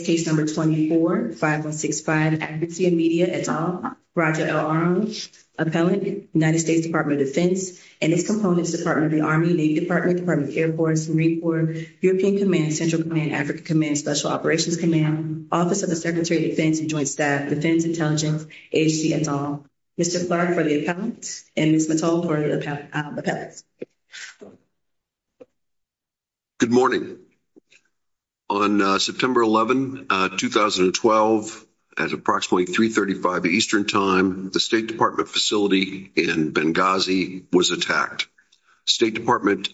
Case No. 24-5165, Accuracy in Media, et al. Roger L. Arnold, Appellant, United States Department of Defense, and its components, Department of the Army, Navy Department, Department of Air Force, Marine Corps, European Command, Central Command, African Command, Special Operations Command, Office of the Secretary of Defense and Joint Staff, Defense Intelligence, AHC, et al. Mr. Clark for the Appellants, and Ms. Mattol for the Appellants. Good morning. On September 11, 2012, at approximately 335 Eastern Time, the State Department facility in Benghazi was attacked. State Department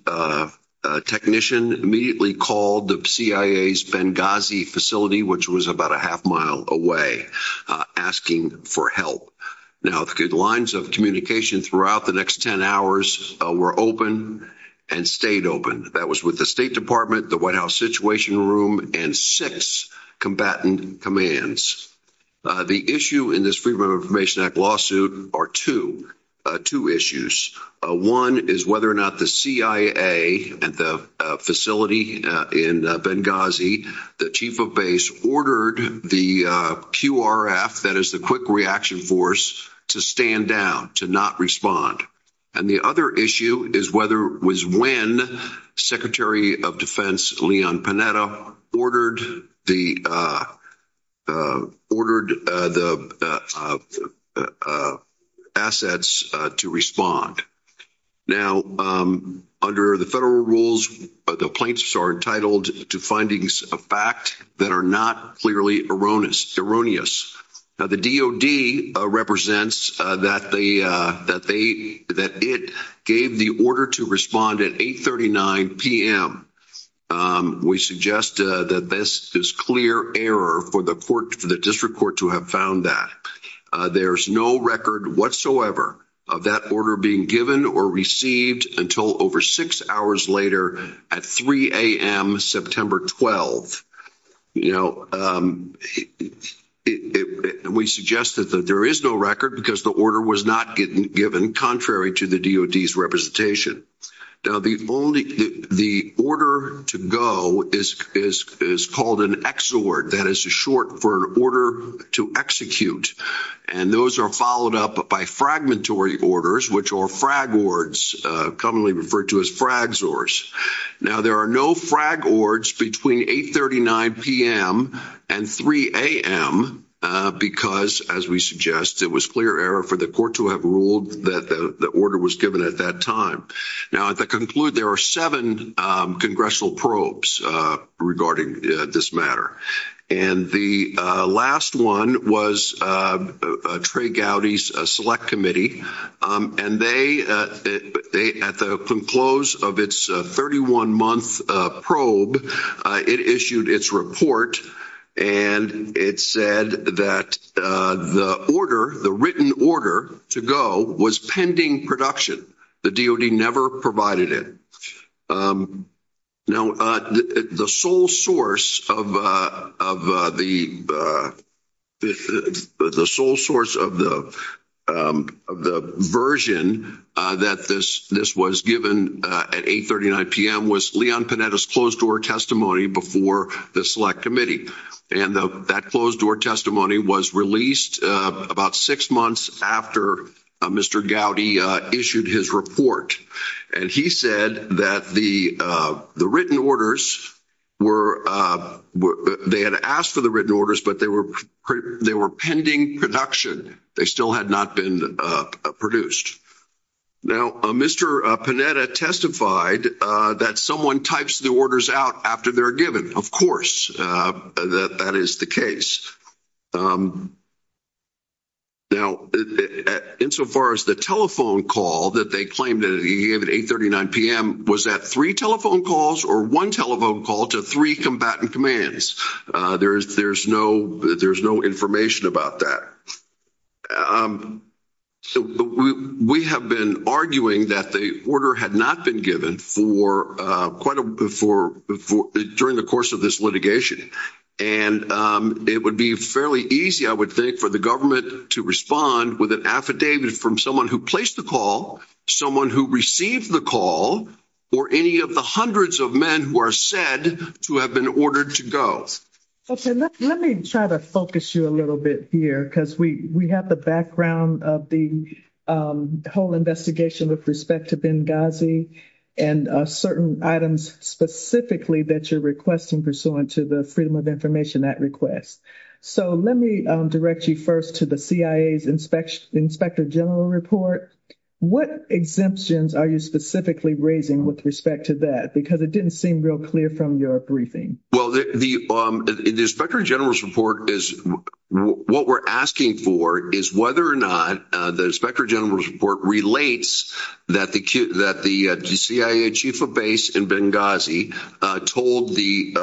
technician immediately called the CIA's Benghazi facility, which was about a half mile away, asking for help. Now, the lines of communication throughout the next 10 hours were open and stayed open. That was with the State Department, the White House Situation Room, and six combatant commands. The issue in this Freedom of Information Act lawsuit are two issues. One is whether or not the CIA at the facility in Benghazi, the chief of base, ordered the QRF, that is the Quick Reaction Force, to stand down, to not respond. And the other issue is when Secretary of Defense Leon Panetta ordered the assets to respond. Now, under the federal rules, the plaintiffs are entitled to findings of fact that are not clearly erroneous. Now, the DOD represents that it gave the order to respond at 8.39 p.m. We suggest that this is clear error for the District Court to have found that. There is no record whatsoever of that order being given or received until over six hours later at 3 a.m. September 12. We suggest that there is no record because the order was not given, contrary to the DOD's representation. Now, the order to go is called an XOR, that is short for an order to execute. And those are followed up by fragmentary orders, which are FRAGORDS, commonly referred to as FRAGZORS. Now, there are no FRAGORDS between 8.39 p.m. and 3 a.m. because, as we suggest, it was clear error for the court to have ruled that the order was given at that time. Now, to conclude, there are seven congressional probes regarding this matter. And the last one was Trey Gowdy's Select Committee. And they, at the close of its 31-month probe, it issued its report, and it said that the order, the written order to go, was pending production. The DOD never provided it. Now, the sole source of the version that this was given at 8.39 p.m. was Leon Panetta's closed-door testimony before the Select Committee. And that closed-door testimony was released about six months after Mr. Gowdy issued his report. And he said that the written orders were, they had asked for the written orders, but they were pending production. They still had not been produced. Now, Mr. Panetta testified that someone types the orders out after they're given. Of course, that is the case. Now, insofar as the telephone call that they claimed that he gave at 8.39 p.m., was that three telephone calls or one telephone call to three combatant commands? There's no information about that. We have been arguing that the order had not been given for quite a, during the course of this litigation. And it would be fairly easy, I would think, for the government to respond with an affidavit from someone who placed the call, someone who received the call, or any of the hundreds of men who are said to have been ordered to go. Let me try to focus you a little bit here, because we have the background of the whole investigation with respect to Benghazi, and certain items specifically that you're requesting pursuant to the Freedom of Information Act request. So let me direct you first to the CIA's Inspector General Report. What exemptions are you specifically raising with respect to that? Because it didn't seem real clear from your briefing. Well, the Inspector General's Report is, what we're asking for is whether or not the Inspector General's Report relates that the CIA Chief of Base in Benghazi told the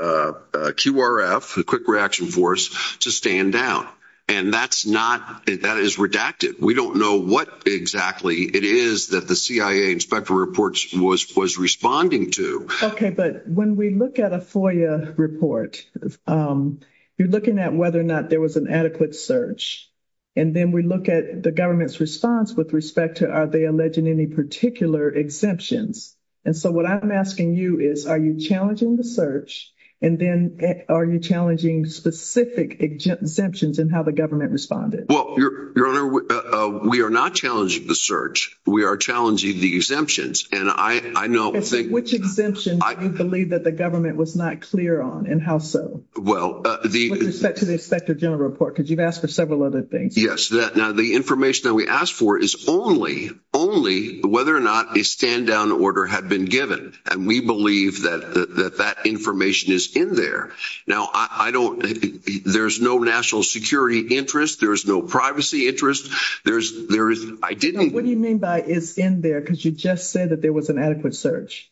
QRF, the Quick Reaction Force, to stand down. And that's not, that is redacted. We don't know what exactly it is that the CIA Inspector Reports was responding to. Okay, but when we look at a FOIA report, you're looking at whether or not there was an adequate search. And then we look at the government's response with respect to are they alleging any particular exemptions. And so what I'm asking you is, are you challenging the search, and then are you challenging specific exemptions in how the government responded? Well, Your Honor, we are not challenging the search. We are challenging the exemptions. Which exemptions do you believe that the government was not clear on, and how so? With respect to the Inspector General Report, because you've asked for several other things. Yes. Now, the information that we asked for is only, only whether or not a stand-down order had been given. And we believe that that information is in there. Now, I don't, there's no national security interest. There's no privacy interest. What do you mean by it's in there? Because you just said that there was an adequate search.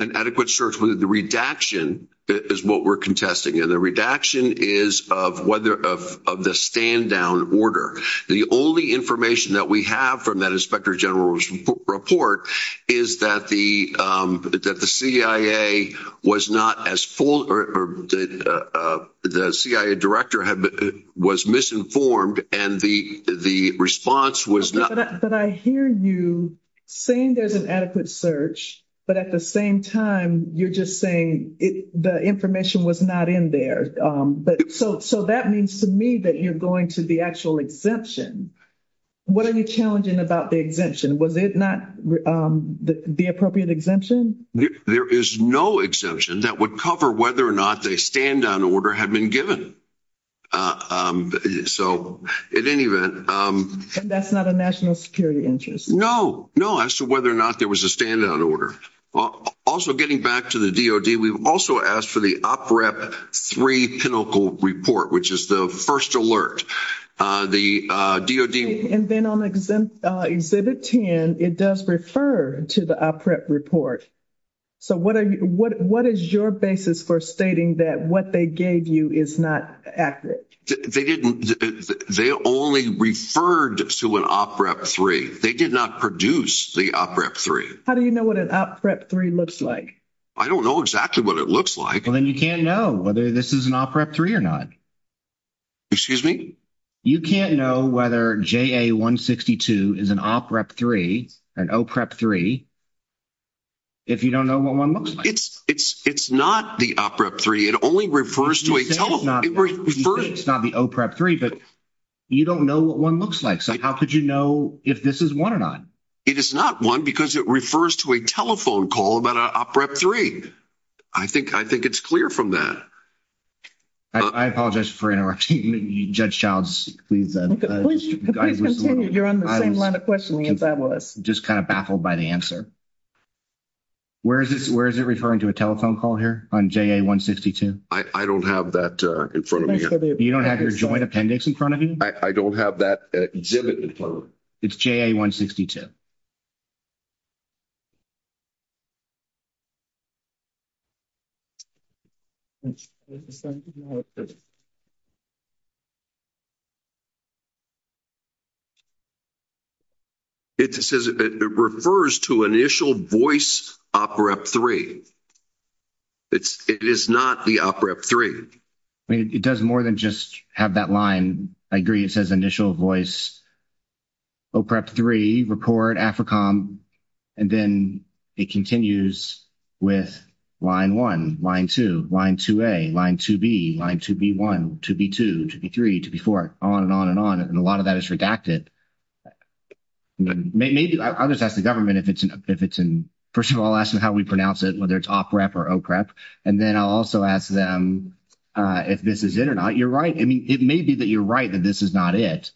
An adequate search. The redaction is what we're contesting. And the redaction is of the stand-down order. The only information that we have from that Inspector General's report is that the CIA was not as full, or the CIA director was misinformed, and the response was not. But I hear you saying there's an adequate search, but at the same time, you're just saying the information was not in there. So that means to me that you're going to the actual exemption. What are you challenging about the exemption? Was it not the appropriate exemption? There is no exemption that would cover whether or not a stand-down order had been given. So, in any event. And that's not a national security interest? No. No, as to whether or not there was a stand-down order. Also, getting back to the DOD, we've also asked for the OPREP three pinnacle report, which is the first alert. And then on Exhibit 10, it does refer to the OPREP report. So what is your basis for stating that what they gave you is not accurate? They only referred to an OPREP three. They did not produce the OPREP three. How do you know what an OPREP three looks like? I don't know exactly what it looks like. Well, then you can't know whether this is an OPREP three or not. Excuse me? You can't know whether JA-162 is an OPREP three, an OPREP three, if you don't know what one looks like. It's not the OPREP three. It only refers to a telephone. It's not the OPREP three, but you don't know what one looks like. So how could you know if this is one or not? It is not one because it refers to a telephone call about an OPREP three. I think it's clear from that. I apologize for interrupting you, Judge Childs. Please continue. You're on the same line of questioning as I was. Just kind of baffled by the answer. Where is it referring to a telephone call here on JA-162? I don't have that in front of me. You don't have your joint appendix in front of you? I don't have that exhibit in front of me. It's JA-162. It says it refers to initial voice OPREP three. It is not the OPREP three. It does more than just have that line. I agree it says initial voice OPREP three, report, AFRICOM, and then it continues with line one, line two, line 2A, line 2B, line 2B1, 2B2, 2B3, 2B4, on and on and on. And a lot of that is redacted. Maybe I'll just ask the government if it's in – first of all, I'll ask them how we pronounce it, whether it's OPREP or OPREP. And then I'll also ask them if this is it or not. You're right. I mean, it may be that you're right that this is not it,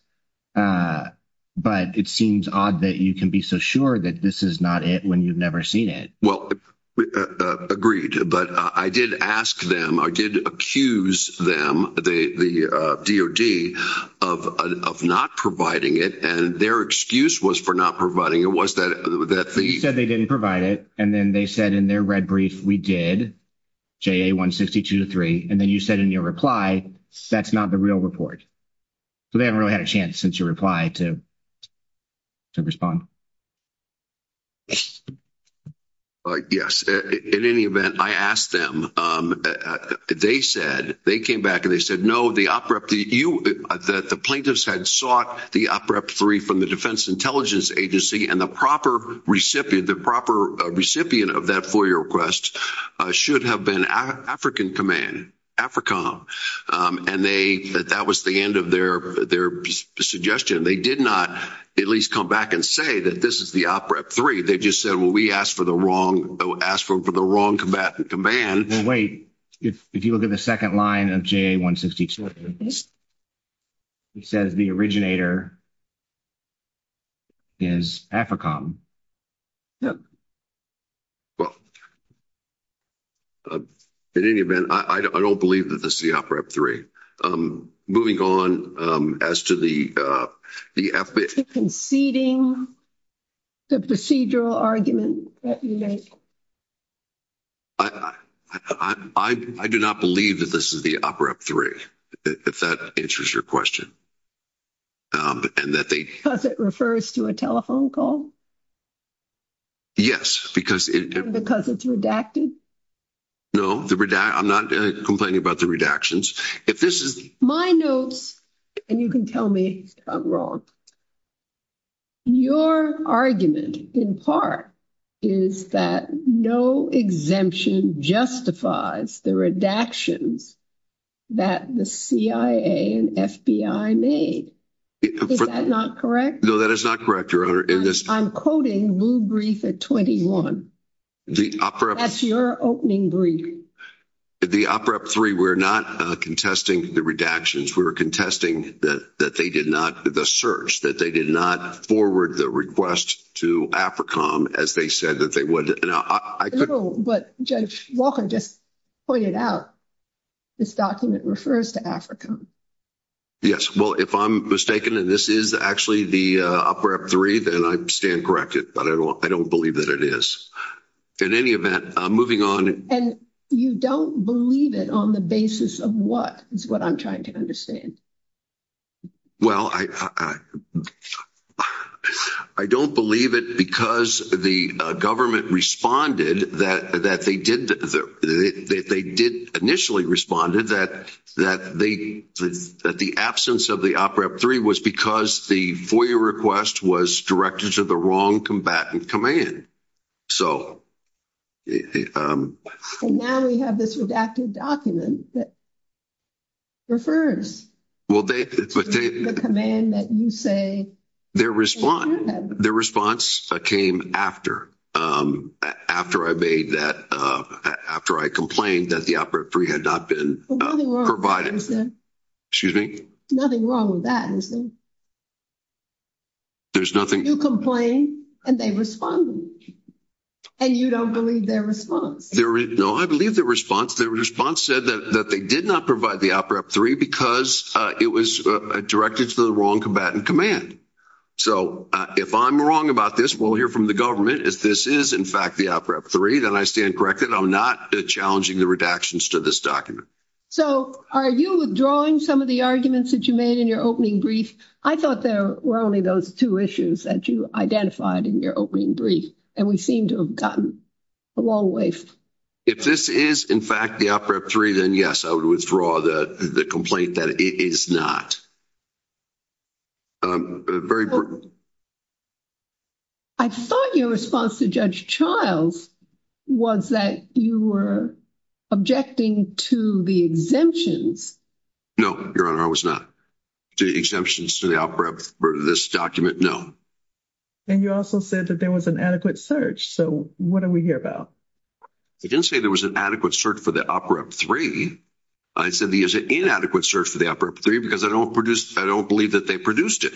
but it seems odd that you can be so sure that this is not it when you've never seen it. Well, agreed. But I did ask them, I did accuse them, the DOD, of not providing it, and their excuse was for not providing it was that – You said they didn't provide it, and then they said in their red brief, we did, JA-162-3, and then you said in your reply, that's not the real report. So they haven't really had a chance since your reply to respond. Yes. In any event, I asked them. They said – they came back and they said, no, the OPREP – the plaintiffs had sought the OPREP-3 from the Defense Intelligence Agency, and the proper recipient of that FOIA request should have been African Command, AFRICOM. And they – that was the end of their suggestion. They did not at least come back and say that this is the OPREP-3. They just said, well, we asked for the wrong – asked for the wrong combatant command. Well, wait. If you look at the second line of JA-162, it says the originator is AFRICOM. Yes. Well, in any event, I don't believe that this is the OPREP-3. Moving on, as to the – Conceding the procedural argument that you make. I do not believe that this is the OPREP-3, if that answers your question, and that they – Because it refers to a telephone call? Yes, because it – Because it's redacted? No, the – I'm not complaining about the redactions. If this is – My notes – and you can tell me I'm wrong. Your argument, in part, is that no exemption justifies the redactions that the CIA and FBI made. Is that not correct? No, that is not correct, Your Honor. I'm quoting Blue Brief at 21. The OPREP – That's your opening brief. The OPREP-3, we're not contesting the redactions. We were contesting that they did not – the search, that they did not forward the request to AFRICOM as they said that they would. No, but Judge Walker just pointed out this document refers to AFRICOM. Yes, well, if I'm mistaken and this is actually the OPREP-3, then I stand corrected, but I don't believe that it is. In any event, moving on – And you don't believe it on the basis of what is what I'm trying to understand. Well, I don't believe it because the government responded that they did – they did initially responded that they – that the absence of the OPREP-3 was because the FOIA request was directed to the wrong combatant command. So – And now we have this redacted document that refers to the command that you say – Their response came after I made that – after I complained that the OPREP-3 had not been provided. Well, nothing wrong with that, is there? Excuse me? Nothing wrong with that, is there? There's nothing – And they responded. And you don't believe their response? No, I believe their response. Their response said that they did not provide the OPREP-3 because it was directed to the wrong combatant command. So if I'm wrong about this, we'll hear from the government. If this is, in fact, the OPREP-3, then I stand corrected. I'm not challenging the redactions to this document. So are you withdrawing some of the arguments that you made in your opening brief? I thought there were only those two issues that you identified in your opening brief. And we seem to have gotten a long way. If this is, in fact, the OPREP-3, then yes, I would withdraw the complaint that it is not. Very – I thought your response to Judge Childs was that you were objecting to the exemptions. No, Your Honor, I was not. The exemptions to the OPREP for this document, no. And you also said that there was an adequate search. So what are we here about? I didn't say there was an adequate search for the OPREP-3. I said there's an inadequate search for the OPREP-3 because I don't believe that they produced it.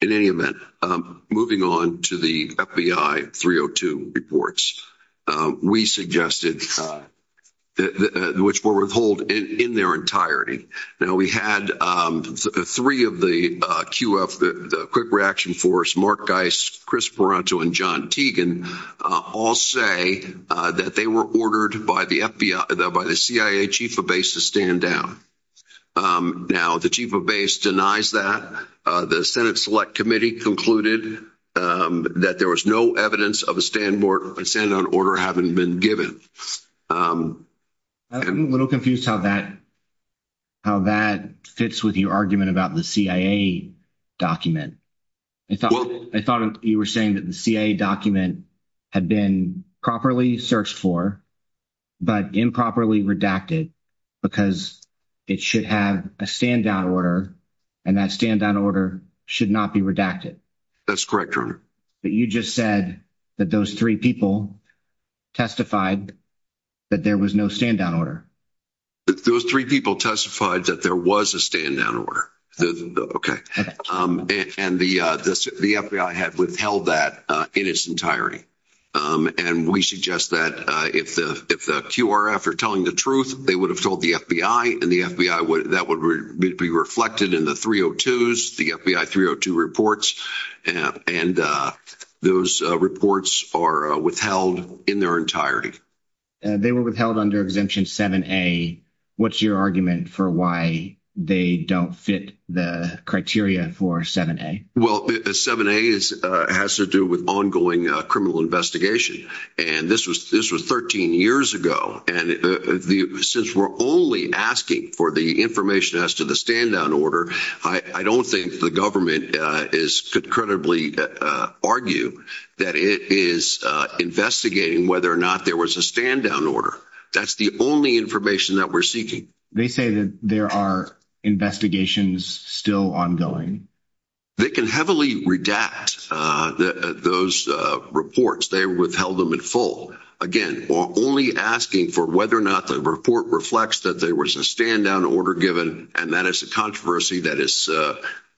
In any event, moving on to the FBI 302 reports, we suggested – which were withheld in their entirety. Now, we had three of the QF, the Quick Reaction Force, Mark Geist, Chris Parenteau, and John Tegan, all say that they were ordered by the FBI – by the CIA Chief of Base to stand down. Now, the Chief of Base denies that. The Senate Select Committee concluded that there was no evidence of a stand-down order having been given. I'm a little confused how that fits with your argument about the CIA document. I thought you were saying that the CIA document had been properly searched for but improperly redacted because it should have a stand-down order and that stand-down order should not be redacted. That's correct, Your Honor. But you just said that those three people testified that there was no stand-down order. Those three people testified that there was a stand-down order. And the FBI had withheld that in its entirety. And we suggest that if the QRF are telling the truth, they would have told the FBI, and the FBI would – that would be reflected in the 302s, the FBI 302 reports, and those reports are withheld in their entirety. They were withheld under Exemption 7A. What's your argument for why they don't fit the criteria for 7A? Well, 7A has to do with ongoing criminal investigation. And this was 13 years ago. And since we're only asking for the information as to the stand-down order, I don't think the government could credibly argue that it is investigating whether or not there was a stand-down order. That's the only information that we're seeking. They say that there are investigations still ongoing. They can heavily redact those reports. They withheld them in full. Again, we're only asking for whether or not the report reflects that there was a stand-down order given, and that is a controversy that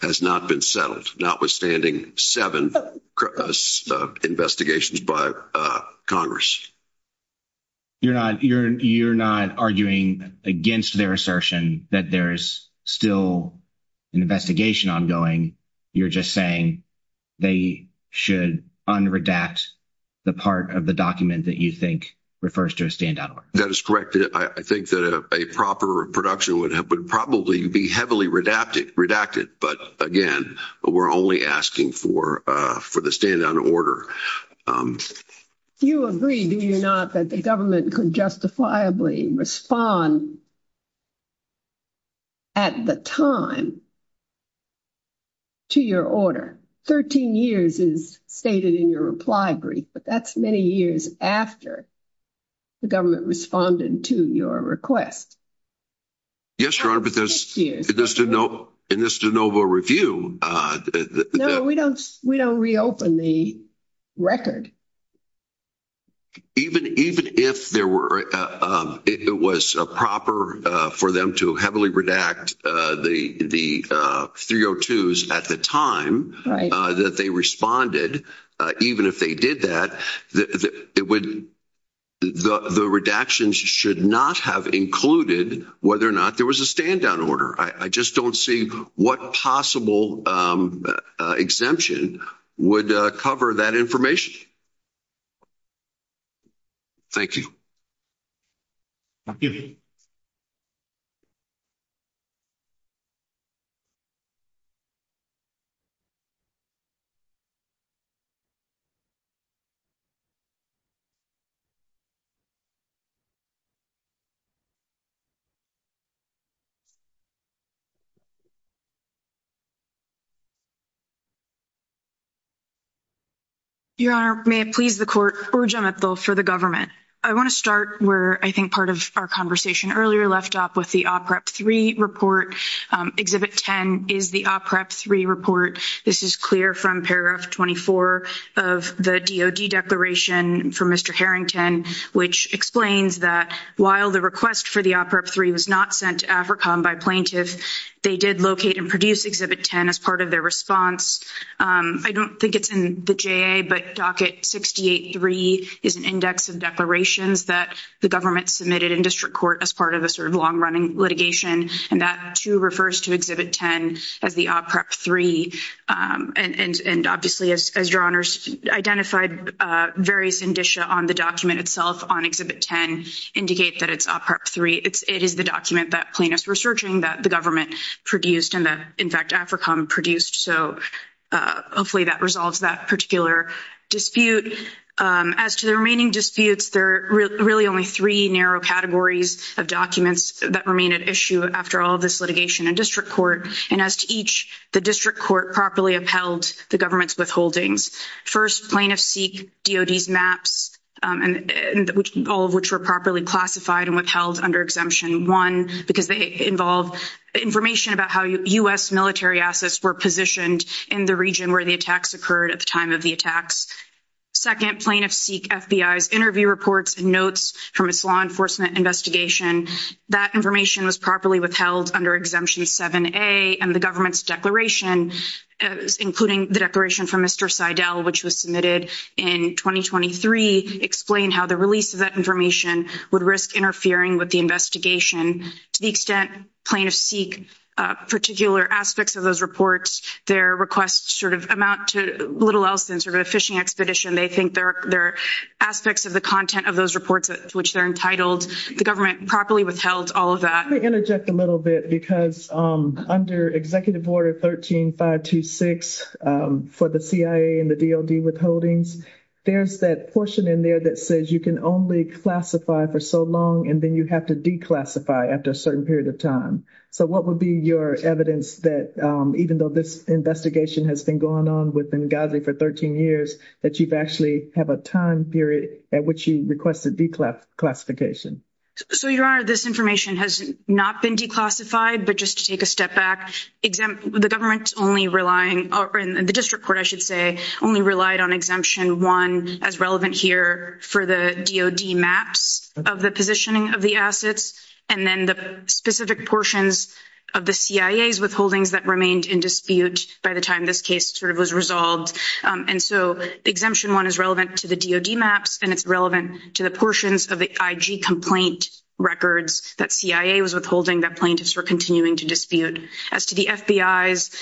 has not been settled, notwithstanding seven investigations by Congress. You're not arguing against their assertion that there's still an investigation ongoing. You're just saying they should unredact the part of the document that you think refers to a stand-down order. That is correct. I think that a proper production would probably be heavily redacted. But again, we're only asking for the stand-down order. Do you agree, do you not, that the government could justifiably respond at the time to your order? Thirteen years is stated in your reply brief, but that's many years after the government responded to your request. Yes, Your Honor, but in this de novo review – No, we don't reopen the record. Even if it was proper for them to heavily redact the 302s at the time that they responded, even if they did that, the redactions should not have included whether or not there was a stand-down order. I just don't see what possible exemption would cover that information. Thank you. Your Honor, may it please the Court. Urjah Mipthul for the government. I want to start where I think part of our conversation earlier left off with the OPREP 3 report. Exhibit 10 is the OPREP 3 report. This is clear from paragraph 24 of the DOD declaration from Mr. Harrington, which explains that while the request for the OPREP 3 was not sent to AFRICOM by plaintiffs, they did locate and produce Exhibit 10 as part of their response. I don't think it's in the JA, but Docket 68-3 is an index of declarations that the government submitted in district court as part of a sort of long-running litigation, and that, too, refers to Exhibit 10 as the OPREP 3. And obviously, as Your Honors identified, various indicia on the document itself on Exhibit 10 indicate that it's OPREP 3. It is the document that plaintiffs were searching, that the government produced, and that, in fact, AFRICOM produced. So hopefully that resolves that particular dispute. As to the remaining disputes, there are really only three narrow categories of documents that remain at issue after all of this litigation in district court. And as to each, the district court properly upheld the government's withholdings. First, plaintiffs seek DOD's maps, all of which were properly classified and withheld under Exemption 1 because they involve information about how U.S. military assets were positioned in the region where the attacks occurred at the time of the attacks. Second, plaintiffs seek FBI's interview reports and notes from its law enforcement investigation. That information was properly withheld under Exemption 7a, and the government's declaration, including the declaration from Mr. Seidel, which was submitted in 2023, explained how the release of that information would risk interfering with the investigation. To the extent plaintiffs seek particular aspects of those reports, their requests sort of amount to little else than sort of a fishing expedition. They think there are aspects of the content of those reports to which they're entitled. The government properly withheld all of that. Let me interject a little bit because under Executive Order 13-526 for the CIA and the DOD withholdings, there's that portion in there that says you can only classify for so long and then you have to declassify after a certain period of time. So what would be your evidence that even though this investigation has been going on with Benghazi for 13 years, that you actually have a time period at which you requested declassification? So, Your Honor, this information has not been declassified. But just to take a step back, the government's only relying, or the district court, I should say, only relied on Exemption 1 as relevant here for the DOD maps of the positioning of the assets. And then the specific portions of the CIA's withholdings that remained in dispute by the time this case sort of was resolved. And so Exemption 1 is relevant to the DOD maps, and it's relevant to the portions of the IG complaint records that CIA was withholding that plaintiffs were continuing to dispute. As to the FBI's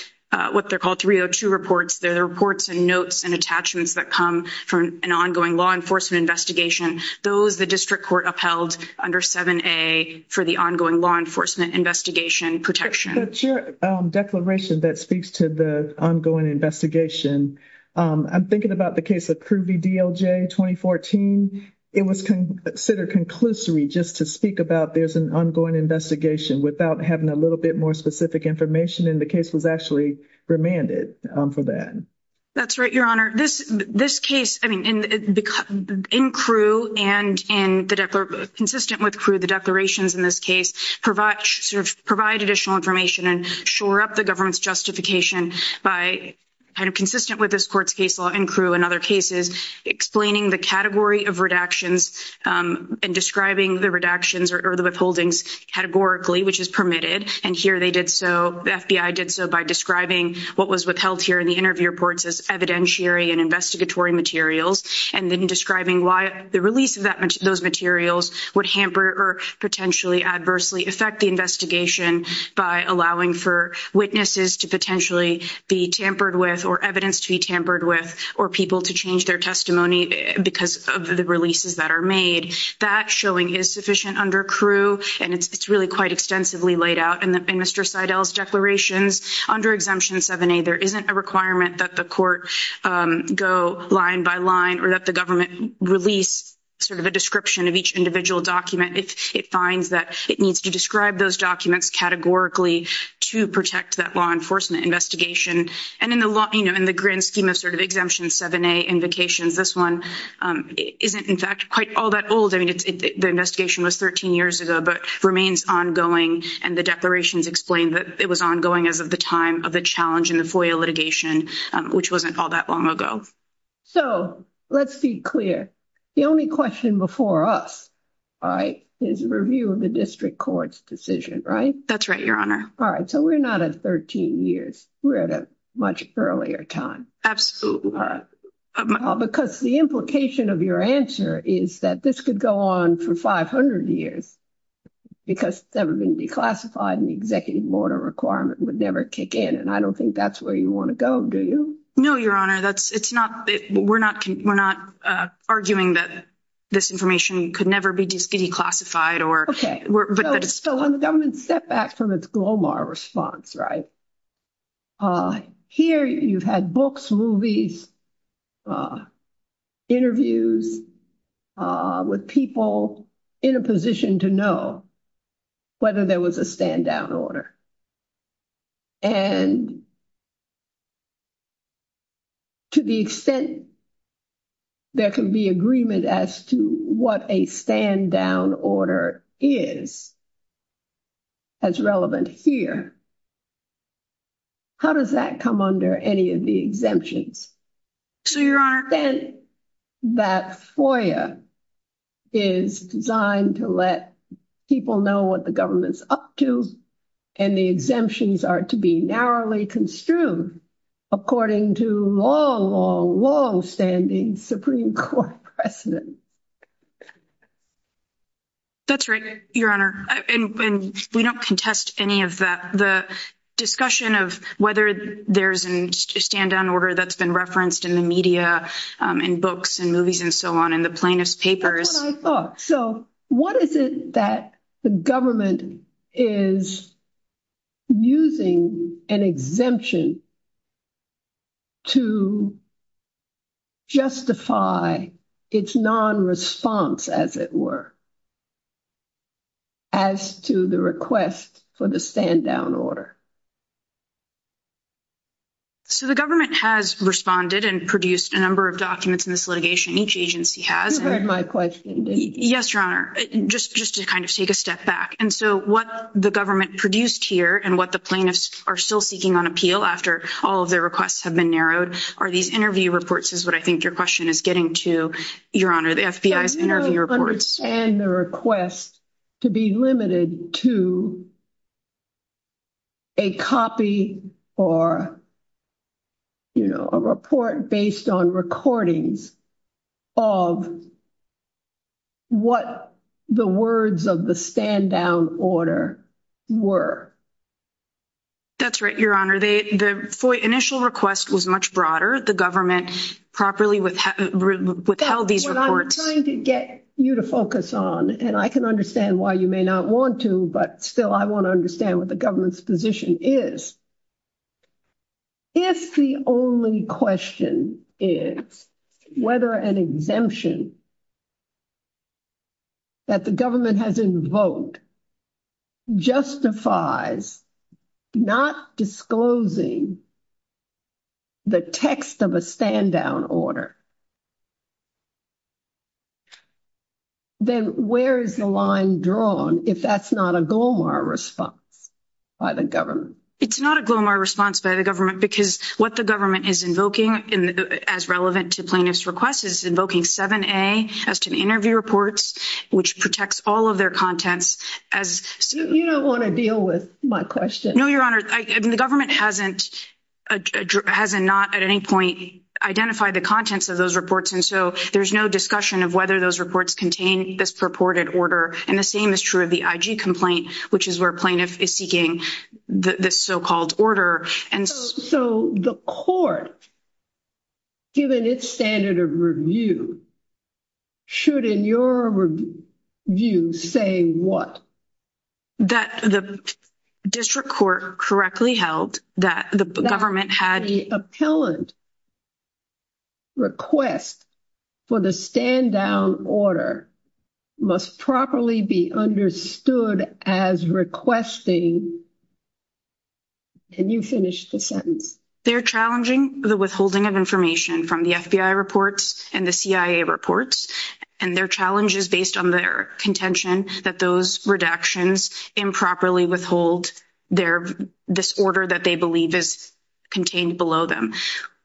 what they're called 302 reports, they're the reports and notes and attachments that come from an ongoing law enforcement investigation. Those the district court upheld under 7A for the ongoing law enforcement investigation protection. But your declaration that speaks to the ongoing investigation, I'm thinking about the case of Crew v. DLJ 2014. It was considered conclusory just to speak about there's an ongoing investigation without having a little bit more specific information, and the case was actually remanded for that. That's right, Your Honor. This case, I mean, in Crew and consistent with Crew, the declarations in this case provide additional information and shore up the government's justification by kind of consistent with this court's case law in Crew and other cases, explaining the category of redactions and describing the redactions or the withholdings categorically, which is permitted. And here they did so, the FBI did so by describing what was withheld here in the interview reports as evidentiary and investigatory materials and then describing why the release of those materials would hamper or potentially adversely affect the investigation by allowing for witnesses to potentially be tampered with or evidence to be tampered with or people to change their testimony because of the releases that are made. That showing is sufficient under Crew, and it's really quite extensively laid out in Mr. Seidel's declarations. Under Exemption 7A, there isn't a requirement that the court go line by line or that the government release sort of a description of each individual document. It finds that it needs to describe those documents categorically to protect that law enforcement investigation. And in the grand scheme of sort of Exemption 7A invocations, this one isn't, in fact, quite all that old. I mean, the investigation was 13 years ago, but remains ongoing. And the declarations explain that it was ongoing as of the time of the challenge in the FOIA litigation, which wasn't all that long ago. So let's be clear. The only question before us is review of the district court's decision, right? That's right, Your Honor. All right. So we're not at 13 years. We're at a much earlier time. Because the implication of your answer is that this could go on for 500 years because it's never been declassified and the executive order requirement would never kick in, and I don't think that's where you want to go, do you? No, Your Honor. We're not arguing that this information could never be declassified. Okay. So on the government's setback from its Glomar response, right? Here you've had books, movies, interviews with people in a position to know whether there was a stand down order. And to the extent there can be agreement as to what a stand down order is, as relevant here, how does that come under any of the exemptions? So, Your Honor. Then that FOIA is designed to let people know what the government's up to, and the exemptions are to be narrowly construed according to long, long, long standing Supreme Court precedents. That's right, Your Honor. And we don't contest any of that. We have a discussion of whether there's a stand down order that's been referenced in the media, in books and movies and so on, in the plaintiff's papers. That's what I thought. So what is it that the government is using an exemption to justify its non-response, as it were, as to the request for the stand down order? So the government has responded and produced a number of documents in this litigation. Each agency has. You heard my question, didn't you? Yes, Your Honor. Just to kind of take a step back. And so what the government produced here, and what the plaintiffs are still seeking on appeal, after all of their requests have been narrowed, are these interview reports, is what I think your question is getting to, Your Honor, the FBI's interview reports. And the request to be limited to a copy or, you know, a report based on recordings of what the words of the stand down order were. That's right, Your Honor. The initial request was much broader. The government properly withheld these reports. I'm trying to get you to focus on, and I can understand why you may not want to, but still I want to understand what the government's position is. If the only question is whether an exemption that the government has invoked justifies not disclosing the text of a stand down order, then where is the line drawn if that's not a GLOMAR response by the government? It's not a GLOMAR response by the government because what the government is invoking as relevant to plaintiff's request is invoking 7A as to the interview reports, which protects all of their contents. You don't want to deal with my question. No, Your Honor. The government hasn't not at any point identified the contents of those reports. And so there's no discussion of whether those reports contain this purported order. And the same is true of the IG complaint, which is where plaintiff is seeking this so-called order. So the court, given its standard of review, should in your view say what? That the district court correctly held that the government had that the appellant request for the stand down order must properly be understood as requesting. Can you finish the sentence? They're challenging the withholding of information from the FBI reports and the CIA reports. And their challenge is based on their contention that those redactions improperly withhold this order that they believe is contained below them.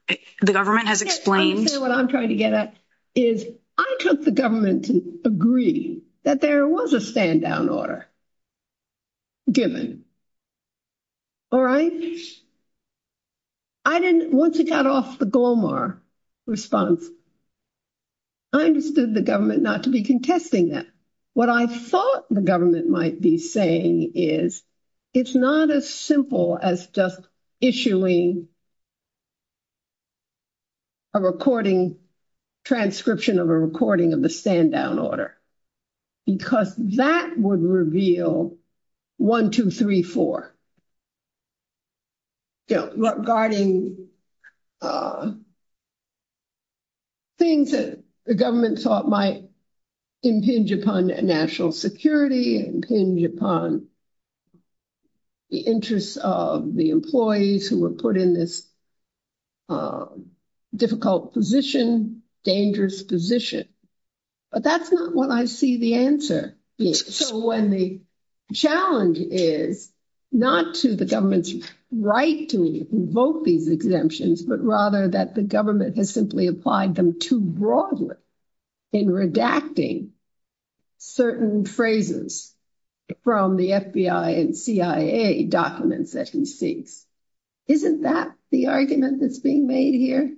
The government has explained. What I'm trying to get at is I took the government to agree that there was a stand down order given. All right. Once it got off the GLOMAR response, I understood the government not to be contesting that. What I thought the government might be saying is it's not as simple as just issuing a recording, transcription of a recording of the stand down order. Because that would reveal one, two, three, four. Regarding things that the government thought might impinge upon national security, impinge upon the interests of the employees who were put in this difficult position, dangerous position. But that's not what I see the answer. So when the challenge is not to the government's right to invoke these exemptions, but rather that the government has simply applied them too broadly in redacting certain phrases from the FBI and CIA documents that he seeks. Isn't that the argument that's being made here?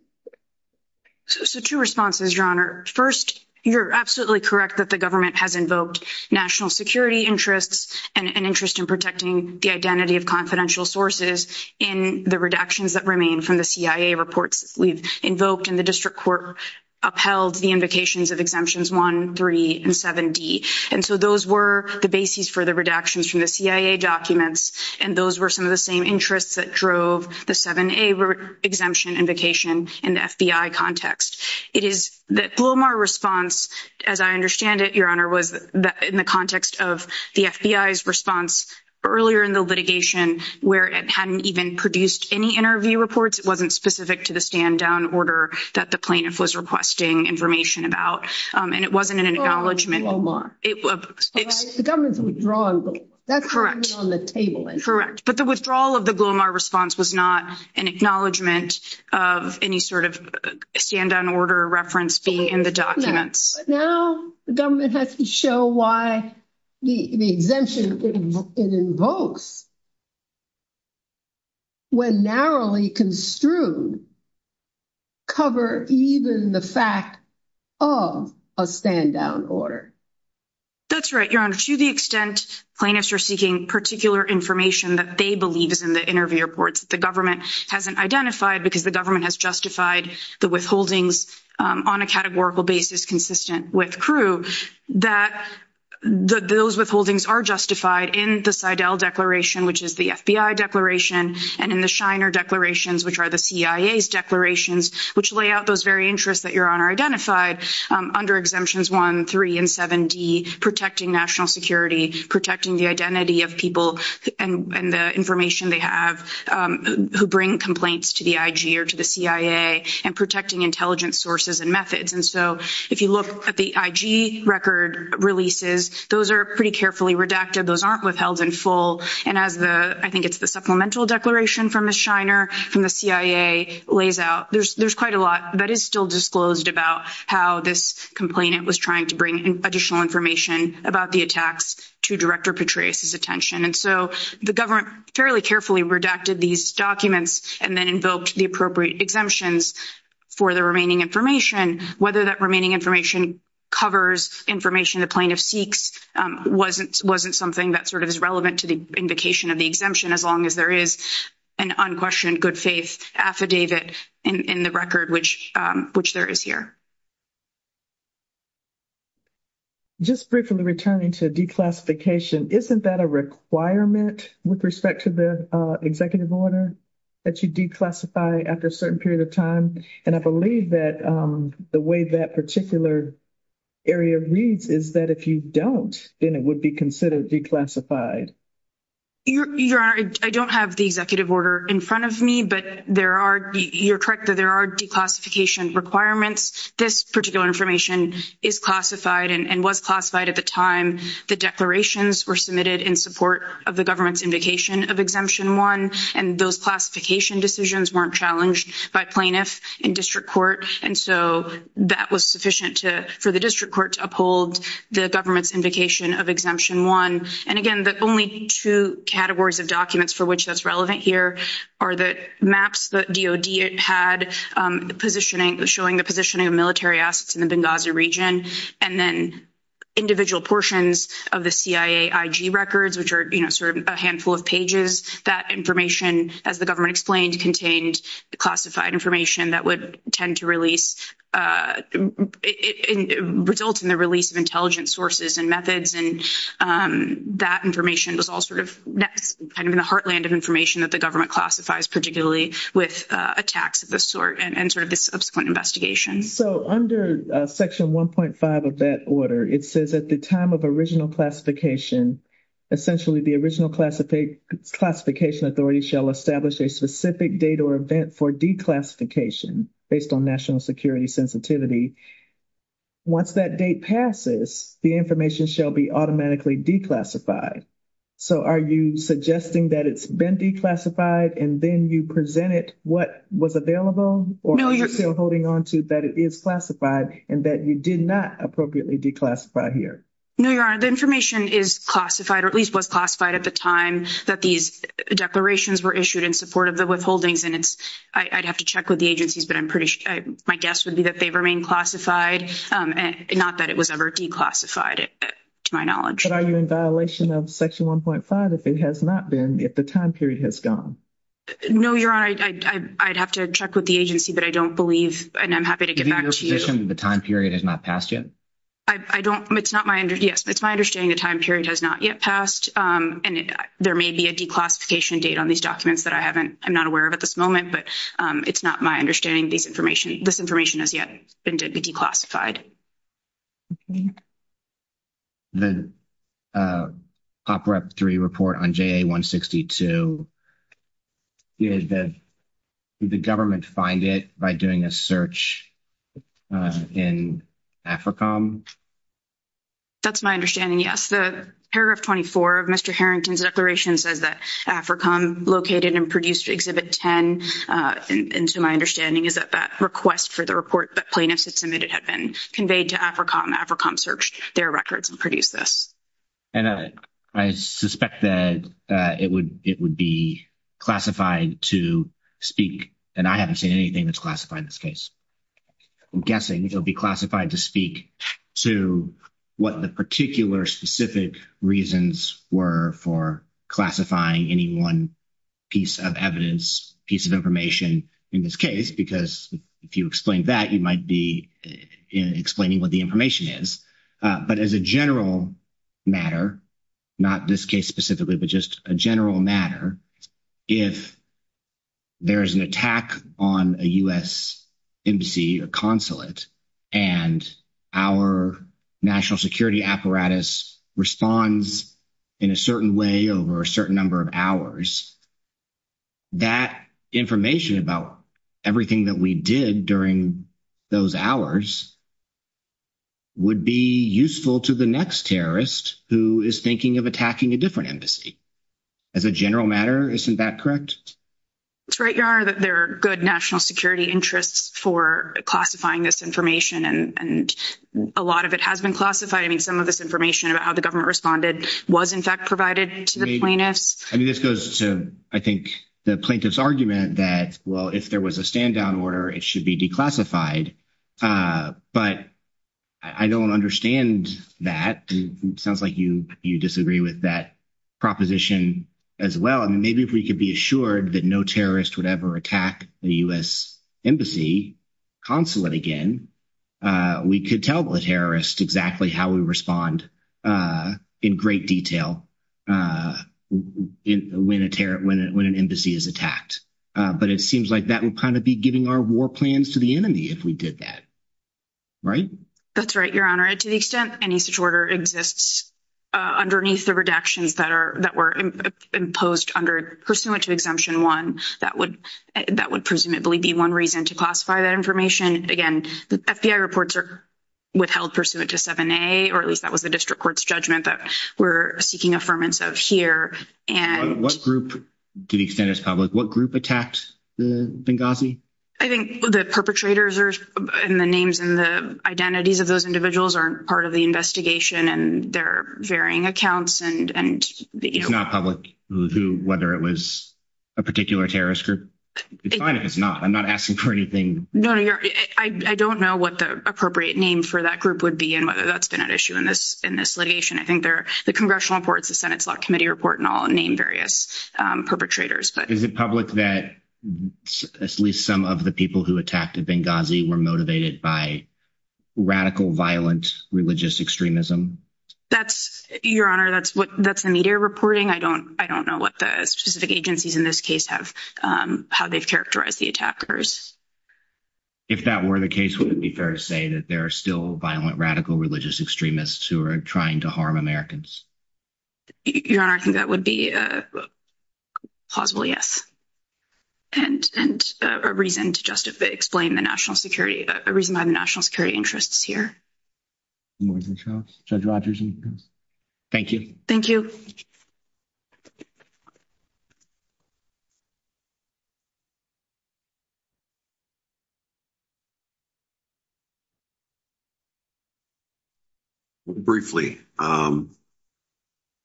So two responses, Your Honor. First, you're absolutely correct that the government has invoked national security interests and an interest in protecting the identity of confidential sources in the redactions that remain from the CIA reports we've invoked. And the district court upheld the invocations of exemptions 1, 3, and 7D. And so those were the bases for the redactions from the CIA documents. And those were some of the same interests that drove the 7A exemption invocation in the FBI context. It is the Glomar response, as I understand it, Your Honor, was in the context of the FBI's response earlier in the litigation where it hadn't even produced any interview reports. It wasn't specific to the stand-down order that the plaintiff was requesting information about. And it wasn't an acknowledgment. The government's withdrawal, that's on the table. Correct. But the withdrawal of the Glomar response was not an acknowledgment of any sort of stand-down order reference being in the documents. No. Now the government has to show why the exemption it invokes, when narrowly construed, cover even the fact of a stand-down order. That's right, Your Honor. To the extent plaintiffs are seeking particular information that they believe is in the interview reports that the government hasn't identified because the government has justified the withholdings on a categorical basis consistent with CRU, that those withholdings are justified in the Seidel Declaration, which is the FBI declaration, and in the Shiner Declarations, which are the CIA's declarations, which lay out those very interests that Your Honor identified under Exemptions 1, 3, and 7D, protecting national security, protecting the identity of people and the information they have, who bring complaints to the IG or to the CIA, and protecting intelligence sources and methods. And so if you look at the IG record releases, those are pretty carefully redacted. Those aren't withheld in full. And as the, I think it's the Supplemental Declaration from the Shiner, from the CIA, lays out, there's quite a lot that is still disclosed about how this complainant was trying to bring additional information about the attacks to Director Petraeus' attention. And so the government fairly carefully redacted these documents and then invoked the appropriate exemptions for the remaining information. Whether that remaining information covers information the plaintiff seeks wasn't something that sort of is relevant to the invocation of the exemption, as long as there is an unquestioned good faith affidavit in the record, which there is here. Just briefly returning to declassification, isn't that a requirement with respect to the executive order, that you declassify after a certain period of time? And I believe that the way that particular area reads is that if you don't, then it would be considered declassified. Your Honor, I don't have the executive order in front of me, but there are, you're correct that there are declassification requirements. This particular information is classified and was classified at the time the declarations were submitted in support of the government's invocation of Exemption 1. And those classification decisions weren't challenged by plaintiff in district court. And so that was sufficient for the district court to uphold the government's invocation of Exemption 1. And again, the only two categories of documents for which that's relevant here are the maps that DOD had, the positioning, showing the positioning of military assets in the Benghazi region, and then individual portions of the CIA IG records, which are, you know, sort of a handful of pages. That information, as the government explained, contained the classified information that would tend to release, result in the release of intelligence sources and methods. And that information was all sort of kind of in the heartland of information that the government classifies, particularly with attacks of this sort and sort of the subsequent investigations. So under Section 1.5 of that order, it says at the time of original classification, essentially the original classification authority shall establish a specific date or event for declassification based on national security sensitivity. Once that date passes, the information shall be automatically declassified. So are you suggesting that it's been declassified and then you presented what was available? Or are you still holding on to that it is classified and that you did not appropriately declassify here? No, Your Honor. The information is classified or at least was classified at the time that these declarations were issued in support of the withholdings. And I'd have to check with the agencies, but my guess would be that they remain classified, not that it was ever declassified to my knowledge. But are you in violation of Section 1.5 if it has not been, if the time period has gone? No, Your Honor. I'd have to check with the agency, but I don't believe, and I'm happy to get back to you. Given your position, the time period has not passed yet? I don't, it's not my, yes, it's my understanding the time period has not yet passed. And there may be a declassification date on these documents that I haven't, I'm not aware of at this moment, but it's not my understanding this information has yet been declassified. The OPREP 3 report on JA-162, did the government find it by doing a search in AFRICOM? That's my understanding, yes. The paragraph 24 of Mr. Harrington's declaration says that AFRICOM located and produced Exhibit 10. And so my understanding is that that request for the report that plaintiffs had submitted had been conveyed to AFRICOM. AFRICOM searched their records and produced this. And I suspect that it would be classified to speak, and I haven't seen anything that's classified in this case. I'm guessing it'll be classified to speak to what the particular specific reasons were for classifying any one piece of evidence, piece of information in this case. Because if you explain that, you might be explaining what the information is. But as a general matter, not this case specifically, but just a general matter, if there is an attack on a U.S. embassy or consulate, and our national security apparatus responds in a certain way over a certain number of hours, that information about everything that we did during those hours would be useful to the next terrorist who is thinking of attacking a different embassy. As a general matter, isn't that correct? That's right, there are good national security interests for classifying this information, and a lot of it has been classified. I mean, some of this information about how the government responded was, in fact, provided to the plaintiffs. I mean, this goes to, I think, the plaintiff's argument that, well, if there was a stand-down order, it should be declassified. But I don't understand that. It sounds like you disagree with that proposition as well. Well, maybe if we could be assured that no terrorist would ever attack a U.S. embassy, consulate again, we could tell the terrorist exactly how we respond in great detail when an embassy is attacked. But it seems like that would kind of be giving our war plans to the enemy if we did that, right? That's right, Your Honor. To the extent any such order exists underneath the redactions that were imposed pursuant to Exemption 1, that would presumably be one reason to classify that information. Again, the FBI reports are withheld pursuant to 7A, or at least that was the district court's judgment that we're seeking affirmance of here. To the extent it's public, what group attacked Benghazi? I think the perpetrators and the names and the identities of those individuals are part of the investigation, and there are varying accounts. It's not public whether it was a particular terrorist group? It's fine if it's not. I'm not asking for anything. No, no, Your Honor. I don't know what the appropriate name for that group would be and whether that's been at issue in this litigation. I think the Congressional Reports, the Senate's Law Committee Report and all name various perpetrators. Is it public that at least some of the people who attacked Benghazi were motivated by radical, violent, religious extremism? That's, Your Honor, that's the media reporting. I don't know what the specific agencies in this case have, how they've characterized the attackers. If that were the case, would it be fair to say that there are still violent, radical, religious extremists who are trying to harm Americans? Your Honor, I think that would be a plausible yes. And a reason to justify, explain the national security, a reason why the national security interest is here. Judge Rogers. Thank you. Thank you. Briefly,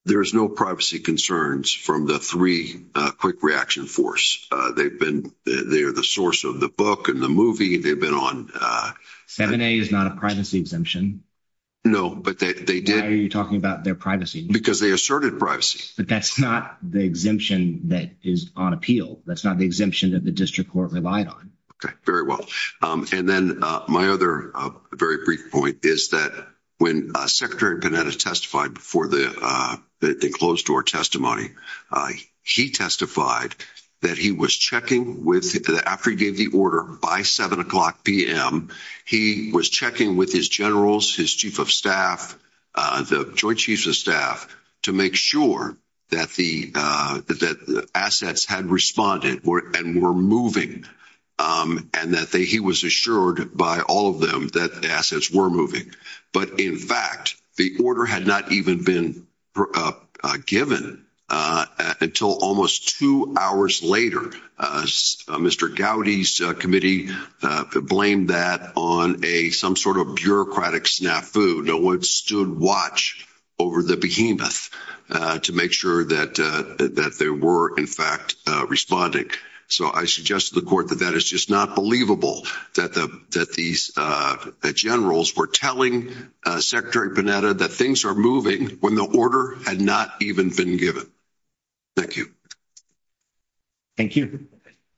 there's no privacy concerns from the three quick reaction force. They've been, they're the source of the book and the movie. They've been on. 7A is not a privacy exemption. No, but they did. Why are you talking about their privacy? Because they asserted privacy. But that's not the exemption that is on appeal. That's not the exemption that the district court relied on. Very well. And then my other very brief point is that when Secretary Panetta testified before the closed-door testimony, he testified that he was checking with, after he gave the order, by 7 o'clock p.m., he was checking with his generals, his chief of staff, the joint chiefs of staff, to make sure that the assets had responded and were moving, and that he was assured by all of them that the assets were moving. But, in fact, the order had not even been given until almost two hours later. Mr. Gowdy's committee blamed that on some sort of bureaucratic snafu. No one stood watch over the behemoth to make sure that they were, in fact, responding. So I suggest to the court that that is just not believable, that these generals were telling Secretary Panetta that things are moving when the order had not even been given. Thank you. Thank you.